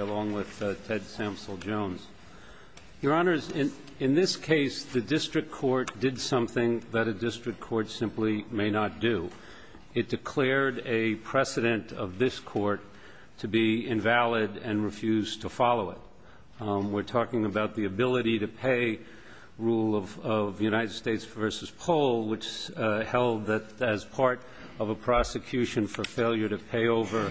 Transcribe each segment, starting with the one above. along with Ted Samsel Jones. Your Honors, in this case, the district court did something that a district court simply may not do. It declared a precedent of this Court to be invalid and refused to follow it. We're talking about the ability to pay rule of United States v. Pohl, which held that as part of a prosecution for failure to pay over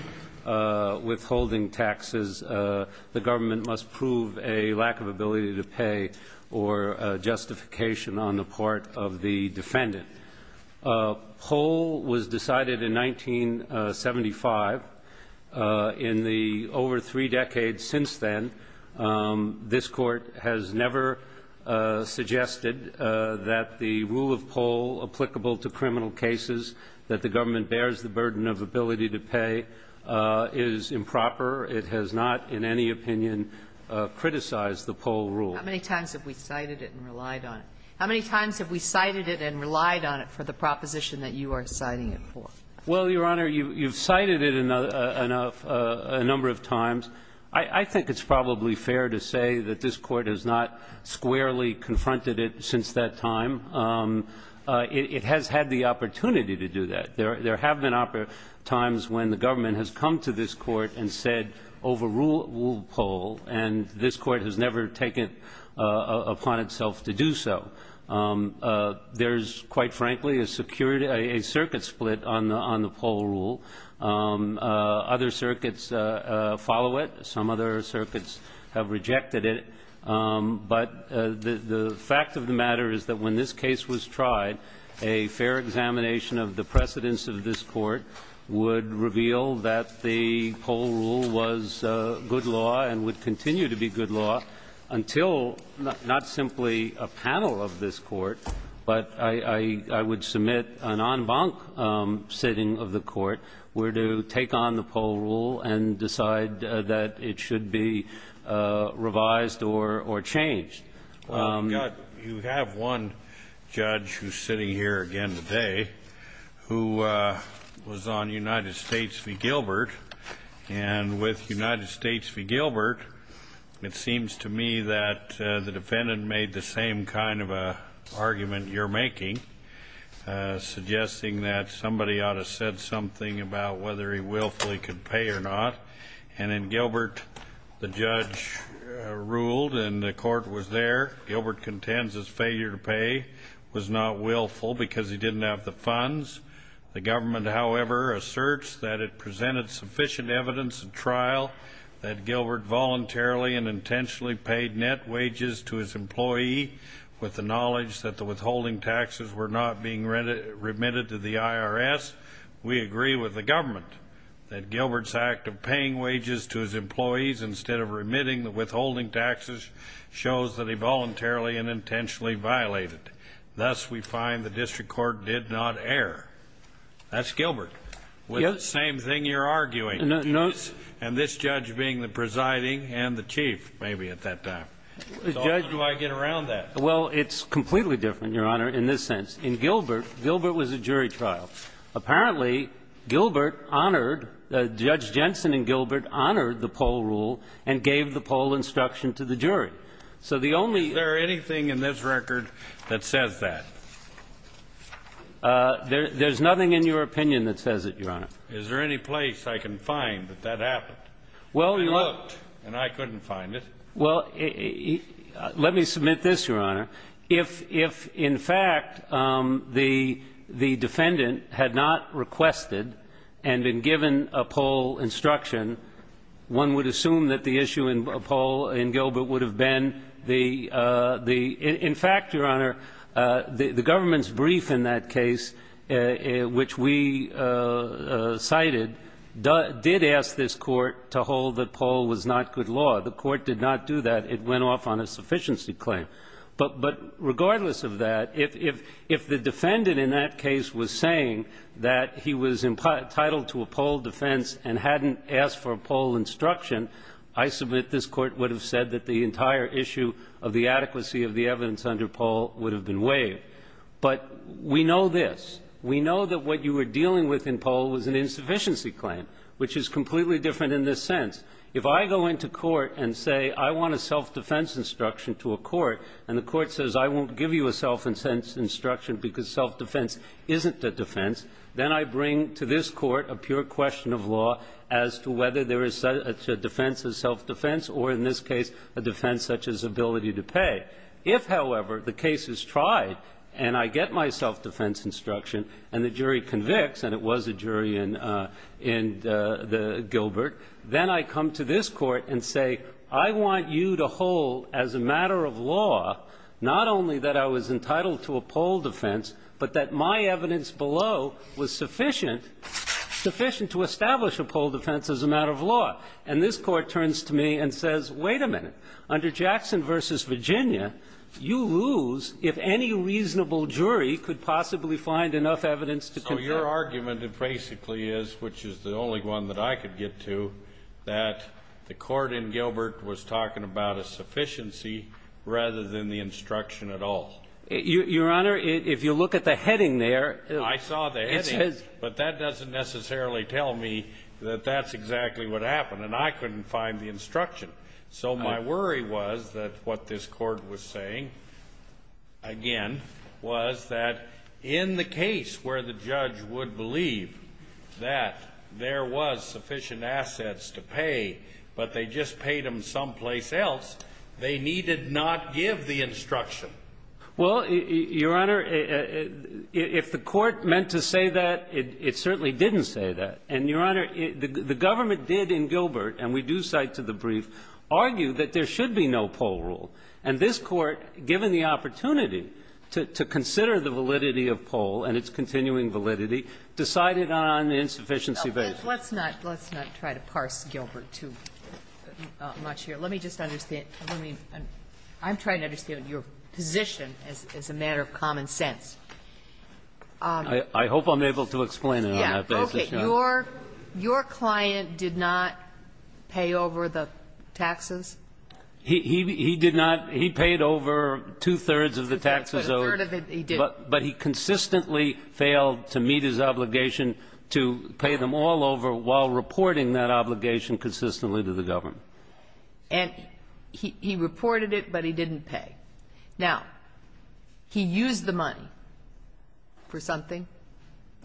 withholding taxes, the government must prove a lack of ability to pay or justification on the part of the government to pay. And so, in the three decades since then, this Court has never suggested that the rule of Pohl applicable to criminal cases, that the government bears the burden of ability to pay, is improper. It has not, in any opinion, criticized the Pohl rule. How many times have we cited it and relied on it? How many times have we cited it and relied on it for the proposition that you are citing it for? Well, Your Honor, you've cited it a number of times. I think it's probably fair to say that this Court has not squarely confronted it since that time. It has had the opportunity to do that. There have been times when the government has come to this Court and said overrule Pohl, and this Court has never taken it upon itself to do so. There's, quite frankly, a circuit split on the Pohl rule. Other circuits follow it. Some other circuits have rejected it. But the fact of the matter is that when this case was tried, a fair examination of the precedence of this Court would reveal that the Pohl rule was good law and would continue to be good law until not simply a panel of this Court, but I would submit an en banc sitting of the Court where to take on the Pohl rule and decide that it should be revised or changed. Well, you have one judge who's sitting here again today who was on United States v. Gilbert. And with United States v. Gilbert, it seems to me that the defendant made the same kind of argument you're making, suggesting that somebody ought to said something about whether he willfully could pay or not. And in Gilbert, the judge ruled, and the Court was there. Gilbert contends his failure to pay was not willful because he didn't have the funds. The government, however, asserts that it presented sufficient evidence at trial that Gilbert voluntarily and intentionally paid net wages to his employee with the knowledge that the withholding taxes were not being remitted to the IRS. We agree with the government that Gilbert's act of paying wages to his employees instead of remitting the withholding taxes shows that he voluntarily and intentionally violated. Thus, we find the district court did not err. That's Gilbert. Yes. With the same thing you're arguing. No. And this judge being the presiding and the chief, maybe, at that time. Judge. So how do I get around that? Well, it's completely different, Your Honor, in this sense. In Gilbert, Gilbert was a jury trial. Apparently, Gilbert honored, Judge Jensen and Gilbert honored the Pohl rule and gave the Pohl instruction to the jury. So the only Is there anything in this record that says that? There's nothing in your opinion that says it, Your Honor. Is there any place I can find that that happened? Well. I looked and I couldn't find it. Well, let me submit this, Your Honor. If, in fact, the defendant had not requested and been given a Pohl instruction, one would assume that the issue in Pohl in Gilbert would have been the, in fact, Your Honor, the government's brief in that case, which we cited, did ask this court to hold that Pohl was not good law. The court did not do that. It went off on a sufficiency claim. But regardless of that, if the defendant in that case was saying that he was entitled to a Pohl defense and hadn't asked for a Pohl instruction, I submit this court would have said that the entire issue of the adequacy of the evidence under Pohl would have been waived. But we know this. We know that what you were dealing with in Pohl was an insufficiency claim, which is completely different in this sense. If I go into court and say I want a self-defense instruction to a court and the court says I won't give you a self-defense instruction because self-defense isn't a defense, then I bring to this Court a pure question of law as to whether there is such a defense as self-defense or, in this case, a defense such as ability to pay. If, however, the case is tried and I get my self-defense instruction and the jury convicts, and it was a jury in the Gilbert, then I come to this Court and say I want you to hold as a matter of law not only that I was entitled to a Pohl defense, but that my evidence below was sufficient to establish a Pohl defense as a matter of law. And this Court turns to me and says, wait a minute. Under Jackson v. Virginia, you lose if any reasonable jury could possibly find enough evidence to confirm. So your argument basically is, which is the only one that I could get to, that the court in Gilbert was talking about a sufficiency rather than the instruction at all. Your Honor, if you look at the heading there. I saw the heading. It says. But that doesn't necessarily tell me that that's exactly what happened. And I couldn't find the instruction. So my worry was that what this Court was saying, again, was that in the case where the judge would believe that there was sufficient assets to pay, but they just paid them someplace else, they needed not give the instruction. Well, Your Honor, if the court meant to say that, it certainly didn't say that. And, Your Honor, the government did in Gilbert, and we do cite to the brief, argue that there should be no Pohl rule. And this Court, given the opportunity to consider the validity of Pohl and its continuing validity, decided on the insufficiency basis. Let's not try to parse Gilbert too much here. Let me just understand. I'm trying to understand your position as a matter of common sense. I hope I'm able to explain it on that basis, Your Honor. Okay. Your client did not pay over the taxes? He did not. He paid over two-thirds of the taxes owed. But a third of it he did. But he consistently failed to meet his obligation to pay them all over while reporting that obligation consistently to the government. And he reported it, but he didn't pay. Now, he used the money for something?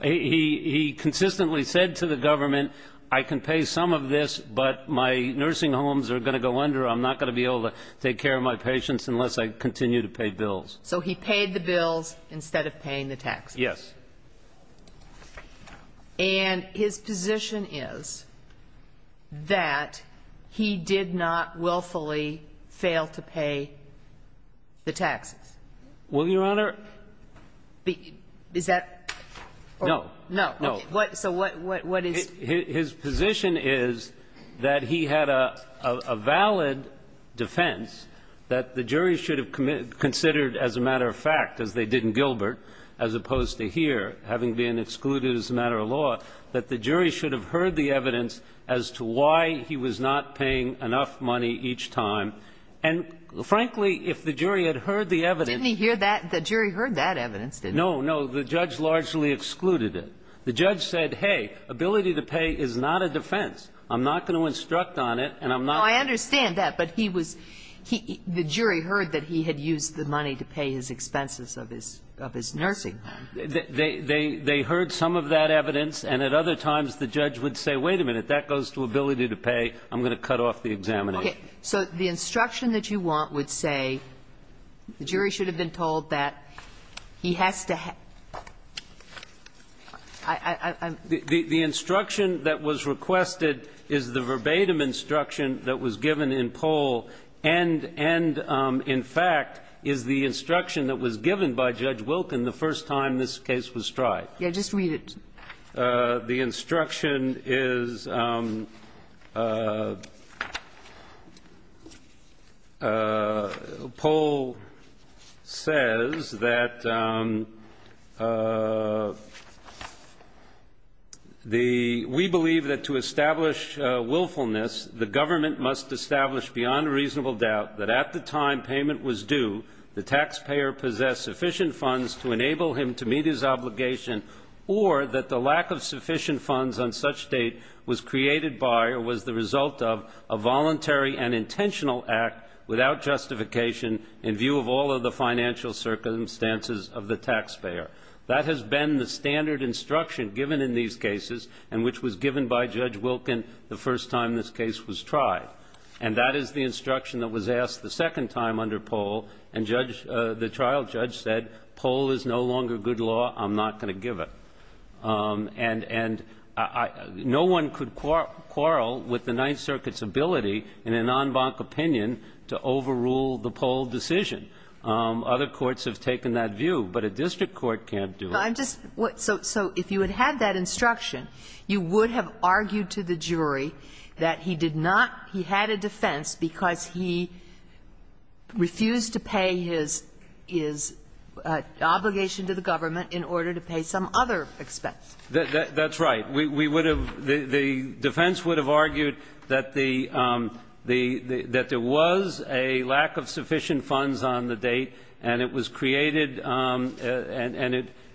He consistently said to the government, I can pay some of this, but my nursing homes are going to go under. I'm not going to be able to take care of my patients unless I continue to pay bills. So he paid the bills instead of paying the taxes? Yes. And his position is that he did not willfully fail to pay the taxes? Well, Your Honor ---- Is that ---- No. No. Okay. So what is ---- His position is that he had a valid defense that the jury should have considered as a matter of fact, as they did in Gilbert, as opposed to here, having been excluded as a matter of law, that the jury should have heard the evidence as to why he was not paying enough money each time. And, frankly, if the jury had heard the evidence ---- Didn't he hear that? The jury heard that evidence, didn't they? No. No. The judge largely excluded it. The judge said, hey, ability to pay is not a defense. I'm not going to instruct on it, and I'm not ---- No, I understand that. But he was ---- the jury heard that he had used the money to pay his expenses of his nursing. They heard some of that evidence, and at other times the judge would say, wait a minute, that goes to ability to pay, I'm going to cut off the examination. Okay. So the instruction that you want would say the jury should have been told that he has to ---- I'm ---- The instruction that was requested is the verbatim instruction that was given in Pohl, and in fact is the instruction that was given by Judge Wilken the first time this case was tried. Just read it. The instruction is Pohl says that the ---- we believe that to establish willfulness the government must establish beyond a reasonable doubt that at the time payment was due the taxpayer possessed sufficient funds to enable him to meet his obligation or that the lack of sufficient funds on such date was created by or was the result of a voluntary and intentional act without justification in view of all of the financial circumstances of the taxpayer. That has been the standard instruction given in these cases and which was given by Judge Wilken the first time this case was tried. And that is the instruction that was asked the second time under Pohl and the trial judge said Pohl is no longer good law, I'm not going to give it. And no one could quarrel with the Ninth Circuit's ability in an en banc opinion to overrule the Pohl decision. Other courts have taken that view, but a district court can't do it. So if you had had that instruction, you would have argued to the jury that he did not ---- he had a defense because he refused to pay his obligation to the government in order to pay some other expense. That's right. We would have ---- the defense would have argued that the ---- that there was a lack of sufficient funds on the date and it was created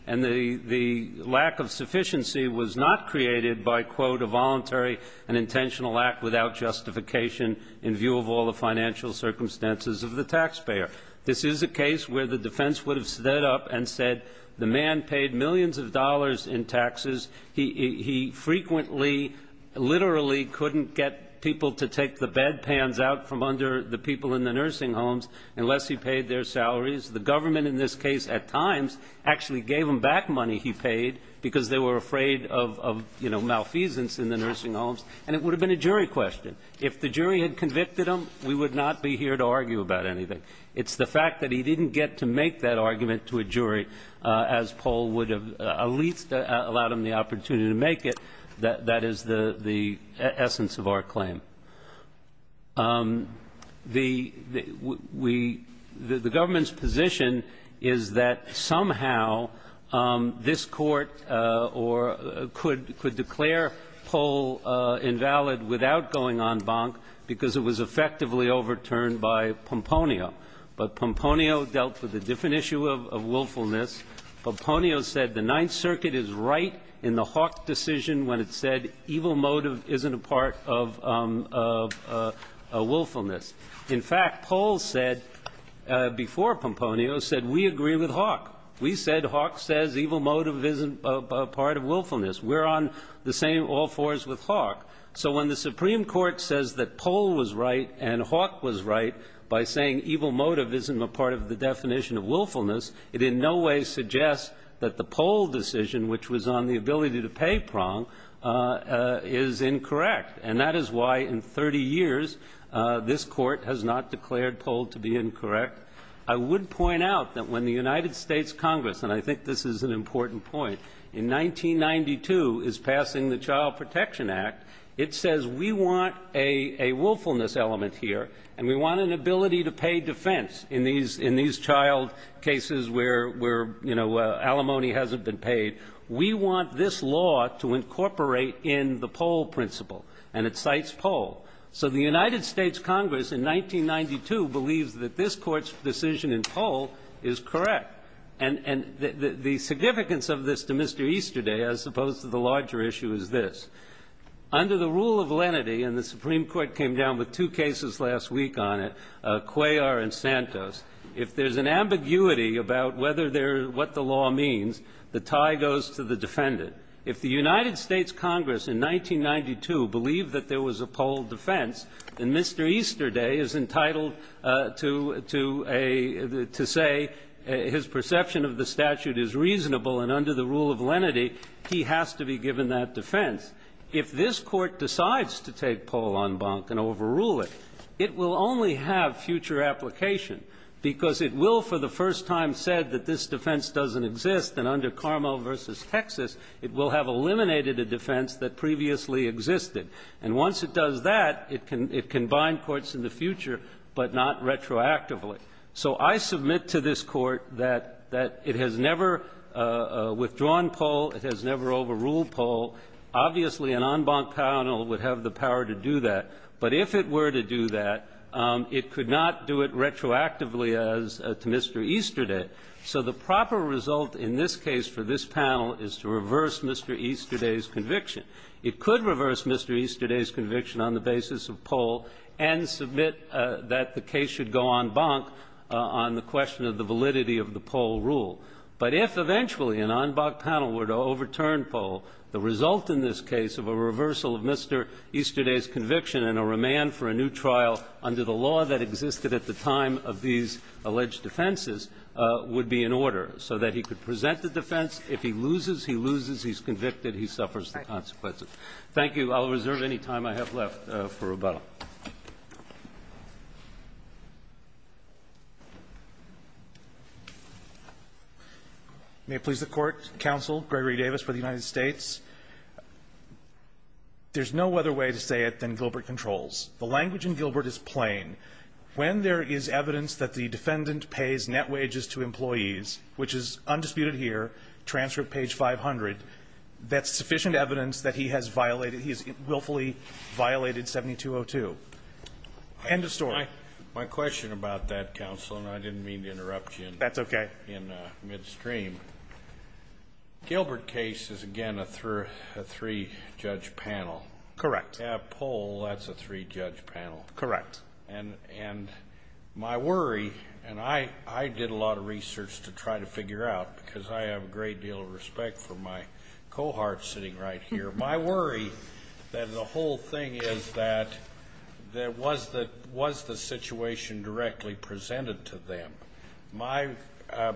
and the lack of sufficiency was not created by, quote, a voluntary and intentional act without justification in view of all the financial circumstances of the taxpayer. This is a case where the defense would have stood up and said the man paid millions of dollars in taxes. He frequently, literally couldn't get people to take the bedpans out from under the people in the nursing homes unless he paid their salaries. The government in this case at times actually gave him back money he paid because they were afraid of, you know, malfeasance in the nursing homes. And it would have been a jury question. If the jury had convicted him, we would not be here to argue about anything. It's the fact that he didn't get to make that argument to a jury, as Pohl would have at least allowed him the opportunity to make it, that is the essence of our claim. The government's position is that somehow this Court could declare Pohl ineligible invalid without going en banc because it was effectively overturned by Pomponio. But Pomponio dealt with a different issue of willfulness. Pomponio said the Ninth Circuit is right in the Hawk decision when it said evil motive isn't a part of willfulness. In fact, Pohl said before Pomponio said we agree with Hawk. We said Hawk says evil motive isn't a part of willfulness. We're on the same all fours with Hawk. So when the Supreme Court says that Pohl was right and Hawk was right by saying evil motive isn't a part of the definition of willfulness, it in no way suggests that the Pohl decision, which was on the ability to pay prong, is incorrect. And that is why in 30 years this Court has not declared Pohl to be incorrect. I would point out that when the United States Congress, and I think this is an important point, in 1992 is passing the Child Protection Act, it says we want a willfulness element here, and we want an ability to pay defense in these child cases where, you know, alimony hasn't been paid. We want this law to incorporate in the Pohl principle, and it cites Pohl. So the United States Congress in 1992 believes that this Court's decision in Pohl is correct. And the significance of this to Mr. Easterday, as opposed to the larger issue, is this. Under the rule of lenity, and the Supreme Court came down with two cases last week on it, Cuellar and Santos, if there's an ambiguity about whether they're what the law means, the tie goes to the defendant. If the United States Congress in 1992 believed that there was a Pohl defense, and Mr. Easterday is entitled to say his perception of the statute is reasonable and under the rule of lenity, he has to be given that defense, if this Court decides to take Pohl en banc and overrule it, it will only have future application, because it will, for the first time, said that this defense doesn't exist, and under Carmel v. Texas, it will have eliminated a defense that previously existed. And once it does that, it can bind courts in the future, but not retroactively. So I submit to this Court that it has never withdrawn Pohl. It has never overruled Pohl. Obviously, an en banc panel would have the power to do that. But if it were to do that, it could not do it retroactively as to Mr. Easterday. So the proper result in this case for this panel is to reverse Mr. Easterday's conviction. It could reverse Mr. Easterday's conviction on the basis of Pohl and submit that the case should go en banc on the question of the validity of the Pohl rule. But if eventually an en banc panel were to overturn Pohl, the result in this case of a reversal of Mr. Easterday's conviction and a remand for a new trial under the law that existed at the time of these alleged defenses would be in order, so that he could present the defense. If he loses, he loses. He's convicted. He suffers the consequences. Thank you. I'll reserve any time I have left for rebuttal. May it please the Court. Counsel Gregory Davis for the United States. There's no other way to say it than Gilbert controls. The language in Gilbert is plain. When there is evidence that the defendant pays net wages to employees, which is undisputed here, transcript page 500, that's sufficient evidence that he has violated, he has willfully violated 7202. End of story. My question about that, Counsel, and I didn't mean to interrupt you in midstream. That's okay. Gilbert case is, again, a three-judge panel. Correct. Pohl, that's a three-judge panel. Correct. And my worry, and I did a lot of research to try to figure out, because I have a great deal of respect for my cohort sitting right here, my worry that the whole thing is that was the situation directly presented to them?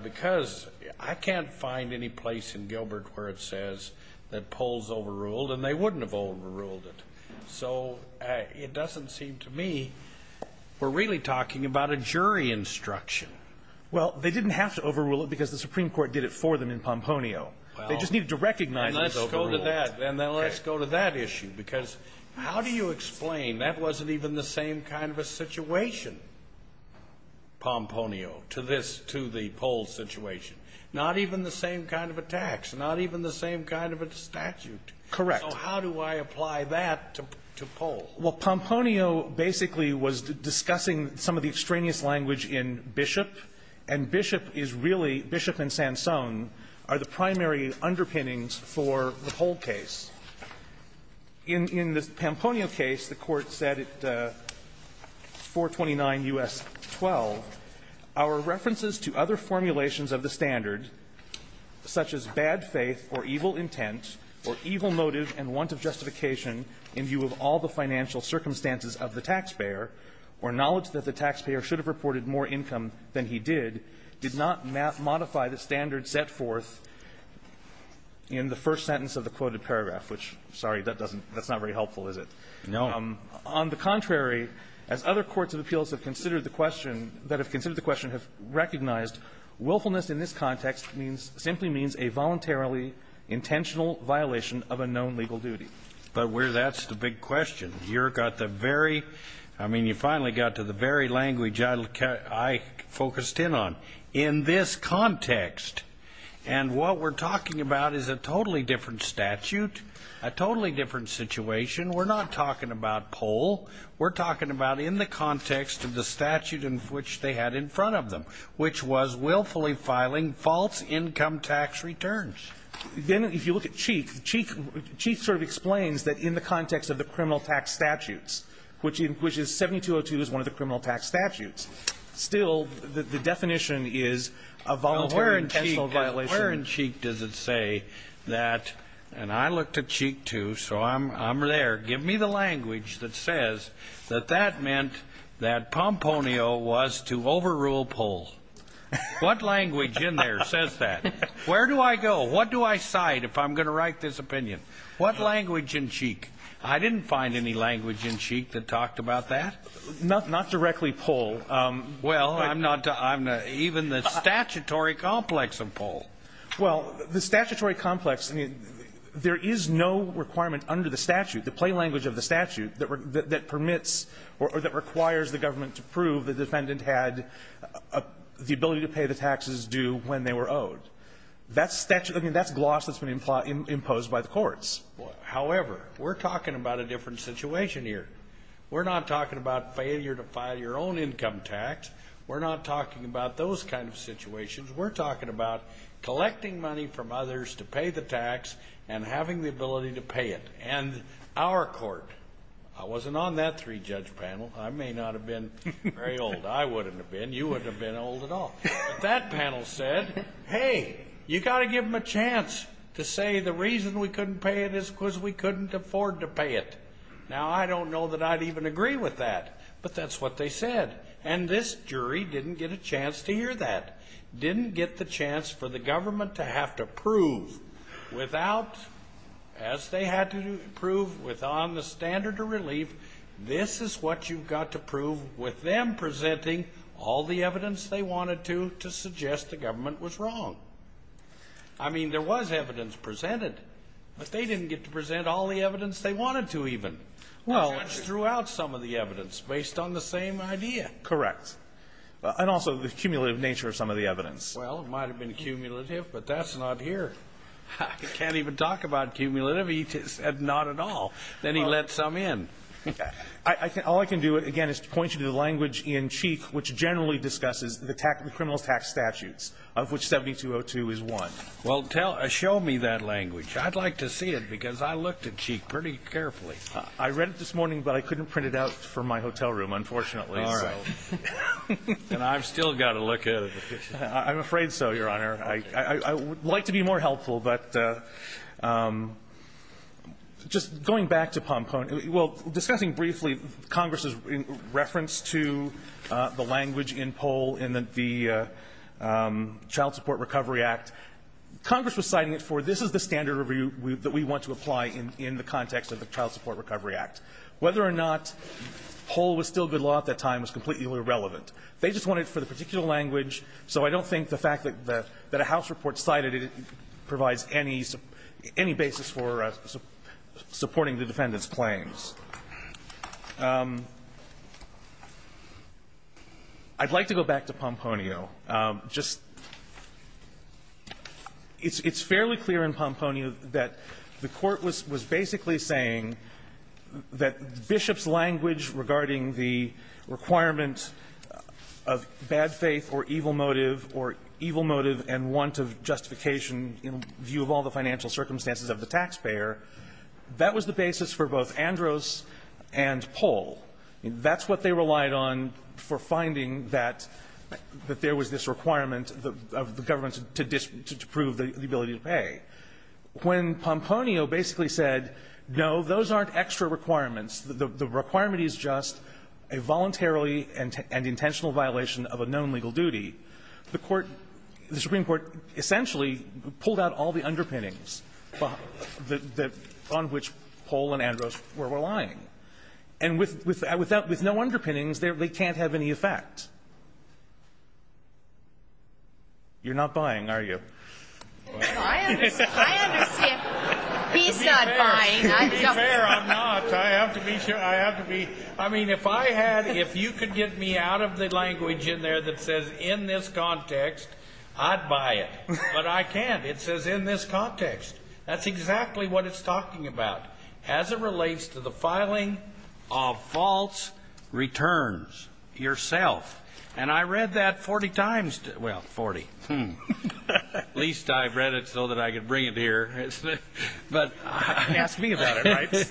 Because I can't find any place in Gilbert where it says that Pohl's overruled, and they wouldn't have overruled it. So it doesn't seem to me we're really talking about a jury instruction. Well, they didn't have to overrule it because the Supreme Court did it for them in Pomponio. They just needed to recognize it was overruled. Let's go to that, and then let's go to that issue, because how do you explain that wasn't even the same kind of a situation, Pomponio, to this, to the Pohl situation? Not even the same kind of a tax, not even the same kind of a statute. Correct. So how do I apply that to Pohl? Well, Pomponio basically was discussing some of the extraneous language in Bishop, and Bishop is really, Bishop and Sansone are the primary underpinnings for the Pohl case. In the Pomponio case, the Court said at 429 U.S. 12, our references to other formulations of the standard, such as bad faith or evil intent or evil motive and want of justification in view of all the financial circumstances of the taxpayer, or knowledge that the taxpayer should have reported more income than he did, did not modify the standard set forth in the first sentence of the quoted paragraph, which, sorry, that doesn't That's not very helpful, is it? No. On the contrary, as other courts of appeals have considered the question, that have considered the question have recognized, willfulness in this context simply means a voluntarily intentional violation of a known legal duty. But that's the big question. You've got the very, I mean, you finally got to the very language I focused in on. In this context, and what we're talking about is a totally different statute, a totally different situation. We're not talking about Pohl. We're talking about in the context of the statute in which they had in front of them, which was willfully filing false income tax returns. Then if you look at Cheek, Cheek sort of explains that in the context of the criminal tax statutes, which is 7202 is one of the criminal tax statutes. Still, the definition is a voluntarily intentional violation. Where in Cheek does it say that, and I looked at Cheek, too, so I'm there. Give me the language that says that that meant that Pomponio was to overrule Pohl. What language in there says that? Where do I go? What do I cite if I'm going to write this opinion? What language in Cheek? I didn't find any language in Cheek that talked about that. Not directly Pohl. Well, I'm not even the statutory complex of Pohl. Well, the statutory complex, there is no requirement under the statute, the plain language of the statute, that permits or that requires the government to prove the defendant had the ability to pay the taxes due when they were owed. That's gloss that's been imposed by the courts. However, we're talking about a different situation here. We're not talking about failure to file your own income tax. We're not talking about those kind of situations. We're talking about collecting money from others to pay the tax and having the ability to pay it. And our court, I wasn't on that three-judge panel. I may not have been very old. I wouldn't have been. You wouldn't have been old at all. But that panel said, hey, you've got to give them a chance to say the reason we couldn't pay it is because we couldn't afford to pay it. Now, I don't know that I'd even agree with that. But that's what they said. And this jury didn't get a chance to hear that. Didn't get the chance for the government to have to prove without, as they had to prove with on the standard of relief, this is what you've got to prove with them presenting all the evidence they wanted to to suggest the government was wrong. I mean, there was evidence presented. But they didn't get to present all the evidence they wanted to even. The judge threw out some of the evidence based on the same idea. Correct. And also the cumulative nature of some of the evidence. Well, it might have been cumulative, but that's not here. I can't even talk about cumulative. He said not at all. Then he let some in. All I can do, again, is to point you to the language in Cheek, which generally discusses the criminal tax statutes, of which 7202 is one. Well, show me that language. I'd like to see it, because I looked at Cheek pretty carefully. I read it this morning, but I couldn't print it out for my hotel room, unfortunately. All right. And I've still got to look at it. I'm afraid so, Your Honor. I would like to be more helpful. But just going back to Pompone, well, discussing briefly Congress's reference to the language in Pohl in the Child Support Recovery Act, Congress was citing it for this is the standard review that we want to apply in the context of the Child Support Recovery Act. Whether or not Pohl was still good law at that time was completely irrelevant. They just wanted it for the particular language, so I don't think the fact that a House I'd like to go back to Pompone. Just it's fairly clear in Pompone that the Court was basically saying that Bishop's language regarding the requirement of bad faith or evil motive, or evil motive and want of justification in view of all the financial circumstances of the taxpayer, that was the basis for both Andros and Pohl. That's what they relied on for finding that there was this requirement of the government to disprove the ability to pay. When Pompone basically said, no, those aren't extra requirements, the requirement is just a voluntarily and intentional violation of a known legal duty, the Supreme Court essentially pulled out all the underpinnings on which Pohl and Andros were relying. And with no underpinnings, they can't have any effect. You're not buying, are you? I understand. He's not buying. To be fair, I'm not. I have to be sure. I have to be. I mean, if I had, if you could get me out of the language in there that says in this context, that's exactly what it's talking about. As it relates to the filing of false returns yourself. And I read that 40 times, well, 40. At least I read it so that I could bring it here. But ask me about it, right?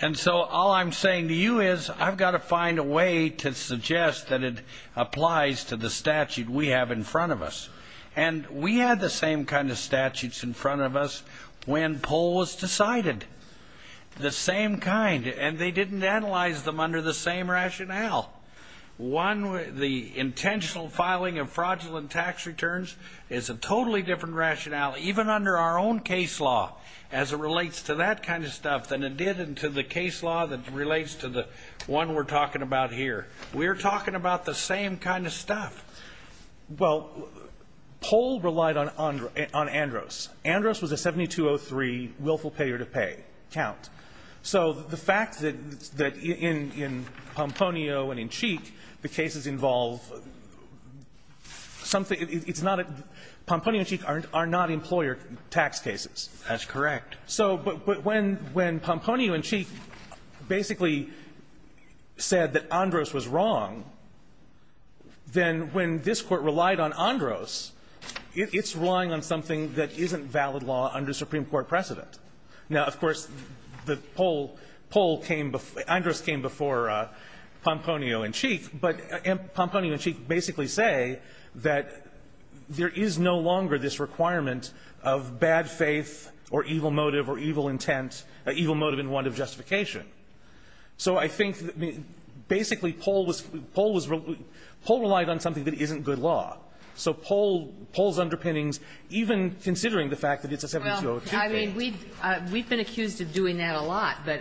And so all I'm saying to you is, I've got to find a way to suggest that it applies to the statute we have in front of us. And we had the same kind of statutes in front of us when Pohl was decided. The same kind. And they didn't analyze them under the same rationale. One, the intentional filing of fraudulent tax returns is a totally different rationale, even under our own case law, as it relates to that kind of stuff than it did into the case law that relates to the one we're talking about here. We're talking about the same kind of stuff. Well, Pohl relied on Andros. Andros was a 7203 willful payer-to-pay count. So the fact that in Pomponio and in Cheek, the cases involve something it's not a Pomponio and Cheek are not employer tax cases. That's correct. So but when Pomponio and Cheek basically said that Andros was wrong, then what when this Court relied on Andros, it's relying on something that isn't valid law under Supreme Court precedent. Now, of course, the Pohl came before Andros came before Pomponio and Cheek. But Pomponio and Cheek basically say that there is no longer this requirement of bad faith or evil motive or evil intent, evil motive in want of justification. So I think basically Pohl relied on something that isn't good law. So Pohl's underpinnings, even considering the fact that it's a 7203. Well, I mean, we've been accused of doing that a lot, but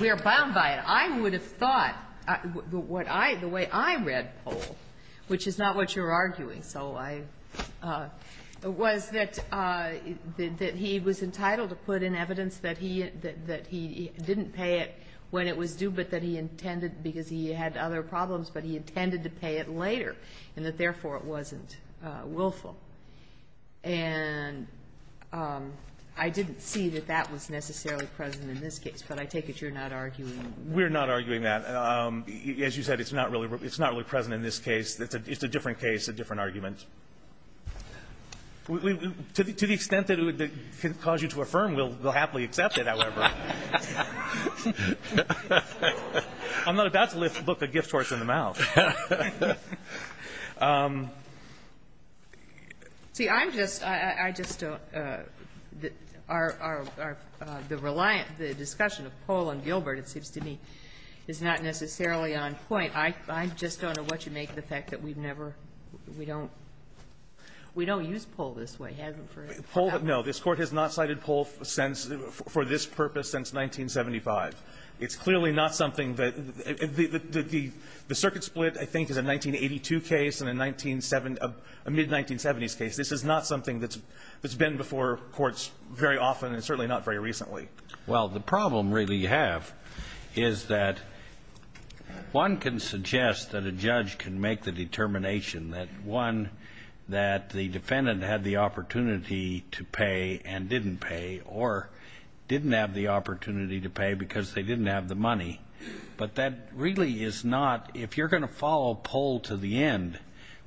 we're bound by it. I would have thought the way I read Pohl, which is not what you're arguing, so I, was that he was entitled to put in evidence that he didn't pay it when it was due, but that he intended, because he had other problems, but he intended to pay it later, and that therefore it wasn't willful. And I didn't see that that was necessarily present in this case, but I take it you're not arguing that. We're not arguing that. As you said, it's not really present in this case. It's a different case, a different argument. To the extent that it would cause you to affirm, we'll happily accept it, however. I'm not about to look a gift horse in the mouth. See, I'm just, I just don't, our, the reliant, the discussion of Pohl and Gilbert, it seems to me, is not necessarily on point. I just don't know what you make of the fact that we've never, we don't, we don't use Pohl this way, have we? Pohl, no. This Court has not cited Pohl since, for this purpose, since 1975. It's clearly not something that, the circuit split, I think, is a 1982 case and a 1970, a mid-1970s case. This is not something that's been before courts very often and certainly not very recently. Well, the problem really you have is that one can suggest that a judge can make the determination that one, that the defendant had the opportunity to pay and didn't pay or didn't have the opportunity to pay because they didn't have the money. But that really is not, if you're going to follow Pohl to the end,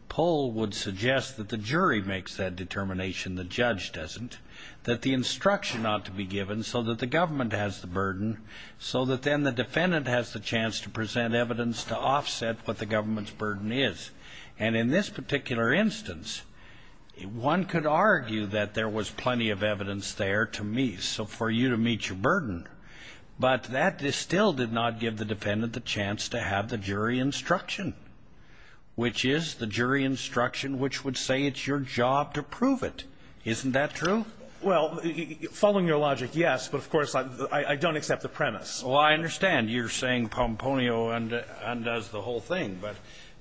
Pohl would suggest that the jury makes that determination, the judge doesn't, that the government has the burden so that then the defendant has the chance to present evidence to offset what the government's burden is. And in this particular instance, one could argue that there was plenty of evidence there to meet, so for you to meet your burden. But that still did not give the defendant the chance to have the jury instruction, which is the jury instruction which would say it's your job to prove it. Isn't that true? Well, following your logic, yes. But, of course, I don't accept the premise. Well, I understand you're saying Pomponio undoes the whole thing. But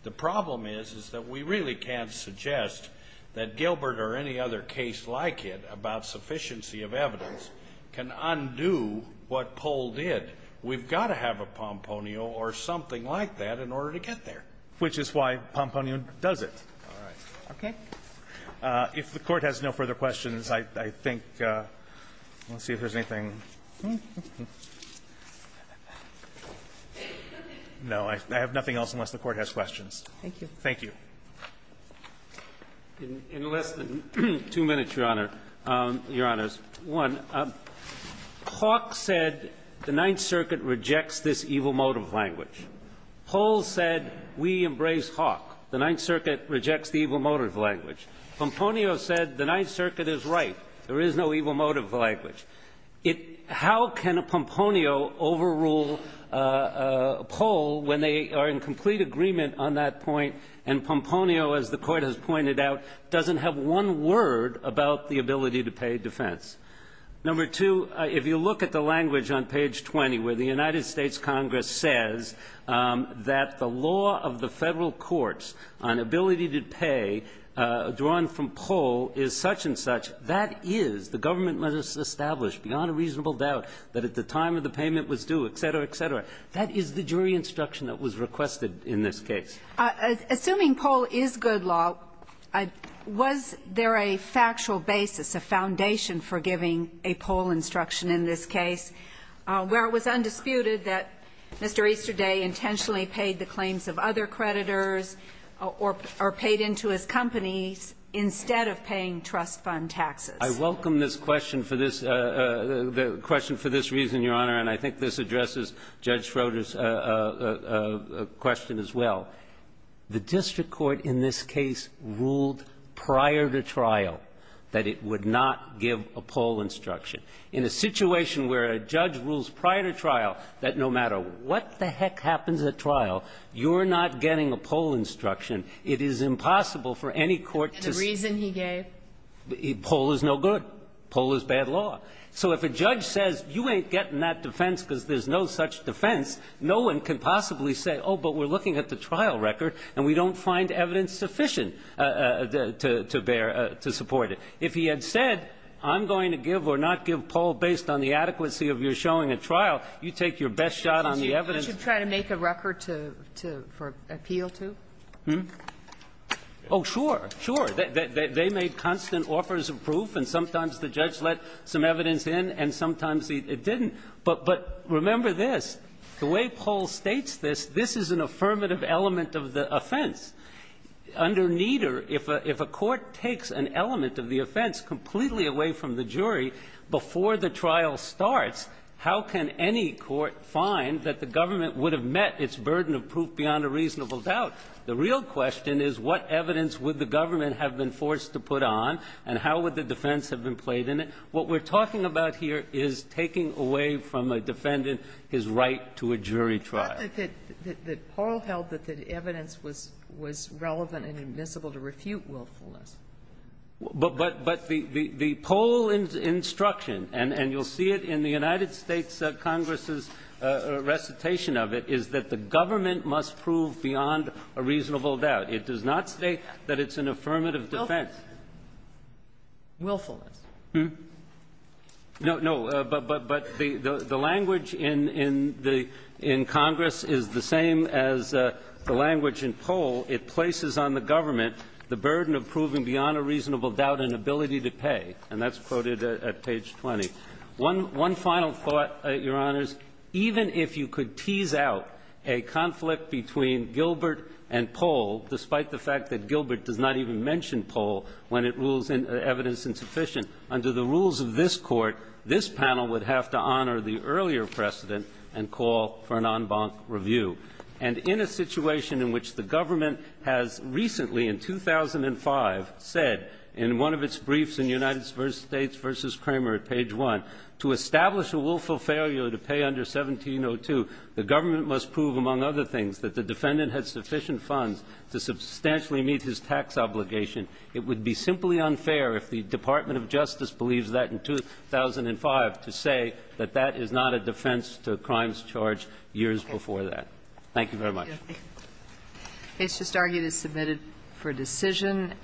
the problem is, is that we really can't suggest that Gilbert or any other case like it about sufficiency of evidence can undo what Pohl did. We've got to have a Pomponio or something like that in order to get there. Which is why Pomponio does it. All right. Okay. If the Court has no further questions, I think we'll see if there's anything to say. No, I have nothing else unless the Court has questions. Thank you. Thank you. In less than two minutes, Your Honor, Your Honors, one, Hawke said the Ninth Circuit rejects this evil motive language. Pohl said we embrace Hawke. The Ninth Circuit rejects the evil motive language. Pomponio said the Ninth Circuit is right. There is no evil motive language. How can Pomponio overrule Pohl when they are in complete agreement on that point and Pomponio, as the Court has pointed out, doesn't have one word about the ability to pay defense? Number two, if you look at the language on page 20 where the United States Congress says that the law of the Federal courts on ability to pay, drawn from Pohl, is such and such, that is, the government must establish beyond a reasonable doubt that at the time of the payment was due, et cetera, et cetera, that is the jury instruction that was requested in this case. Assuming Pohl is good law, was there a factual basis, a foundation for giving a Pohl instruction in this case where it was undisputed that Mr. Easterday intentionally paid the claims of other creditors or paid into his companies instead of paying trust fund taxes? I welcome this question for this reason, Your Honor, and I think this addresses Judge Schroeder's question as well. The district court in this case ruled prior to trial that it would not give a Pohl instruction. In a situation where a judge rules prior to trial that no matter what the heck happens at trial, you're not getting a Pohl instruction, it is impossible for any court to say. The reason he gave? Pohl is no good. Pohl is bad law. So if a judge says you ain't getting that defense because there's no such defense, no one can possibly say, oh, but we're looking at the trial record and we don't find evidence sufficient to bear, to support it. If he had said, I'm going to give or not give Pohl based on the adequacy of your showing at trial, you take your best shot on the evidence. Aren't you trying to make a record to appeal to? Hmm? Oh, sure. Sure. They made constant offers of proof, and sometimes the judge let some evidence in, and sometimes it didn't. But remember this. The way Pohl states this, this is an affirmative element of the offense. Under neither, if a court takes an element of the offense completely away from the jury before the trial starts, how can any court find that the government would have met its burden of proof beyond a reasonable doubt? The real question is what evidence would the government have been forced to put on and how would the defense have been played in it? What we're talking about here is taking away from a defendant his right to a jury trial. It's not that Pohl held that the evidence was relevant and admissible to refute willfulness. But the Pohl instruction, and you'll see it in the United States Congress's recitation of it, is that the government must prove beyond a reasonable doubt. It does not state that it's an affirmative defense. Willfulness. Hmm? No, no. But the language in Congress is the same as the language in Pohl. It places on the government the burden of proving beyond a reasonable doubt an ability to pay, and that's quoted at page 20. One final thought, Your Honors. Even if you could tease out a conflict between Gilbert and Pohl, despite the fact that Gilbert does not even mention Pohl when it rules evidence insufficient, under the rules of this Court, this panel would have to honor the earlier precedent and call for an en banc review. And in a situation in which the government has recently, in 2005, said in one of its briefs in United States v. Kramer at page 1, to establish a willful failure to pay under 1702, the government must prove, among other things, that the defendant had sufficient funds to substantially meet his tax obligation. It would be simply unfair if the Department of Justice believes that in 2005 to say that that is not a defense to crimes charged years before that. Thank you very much. Thank you. It's just argued it's submitted for decision.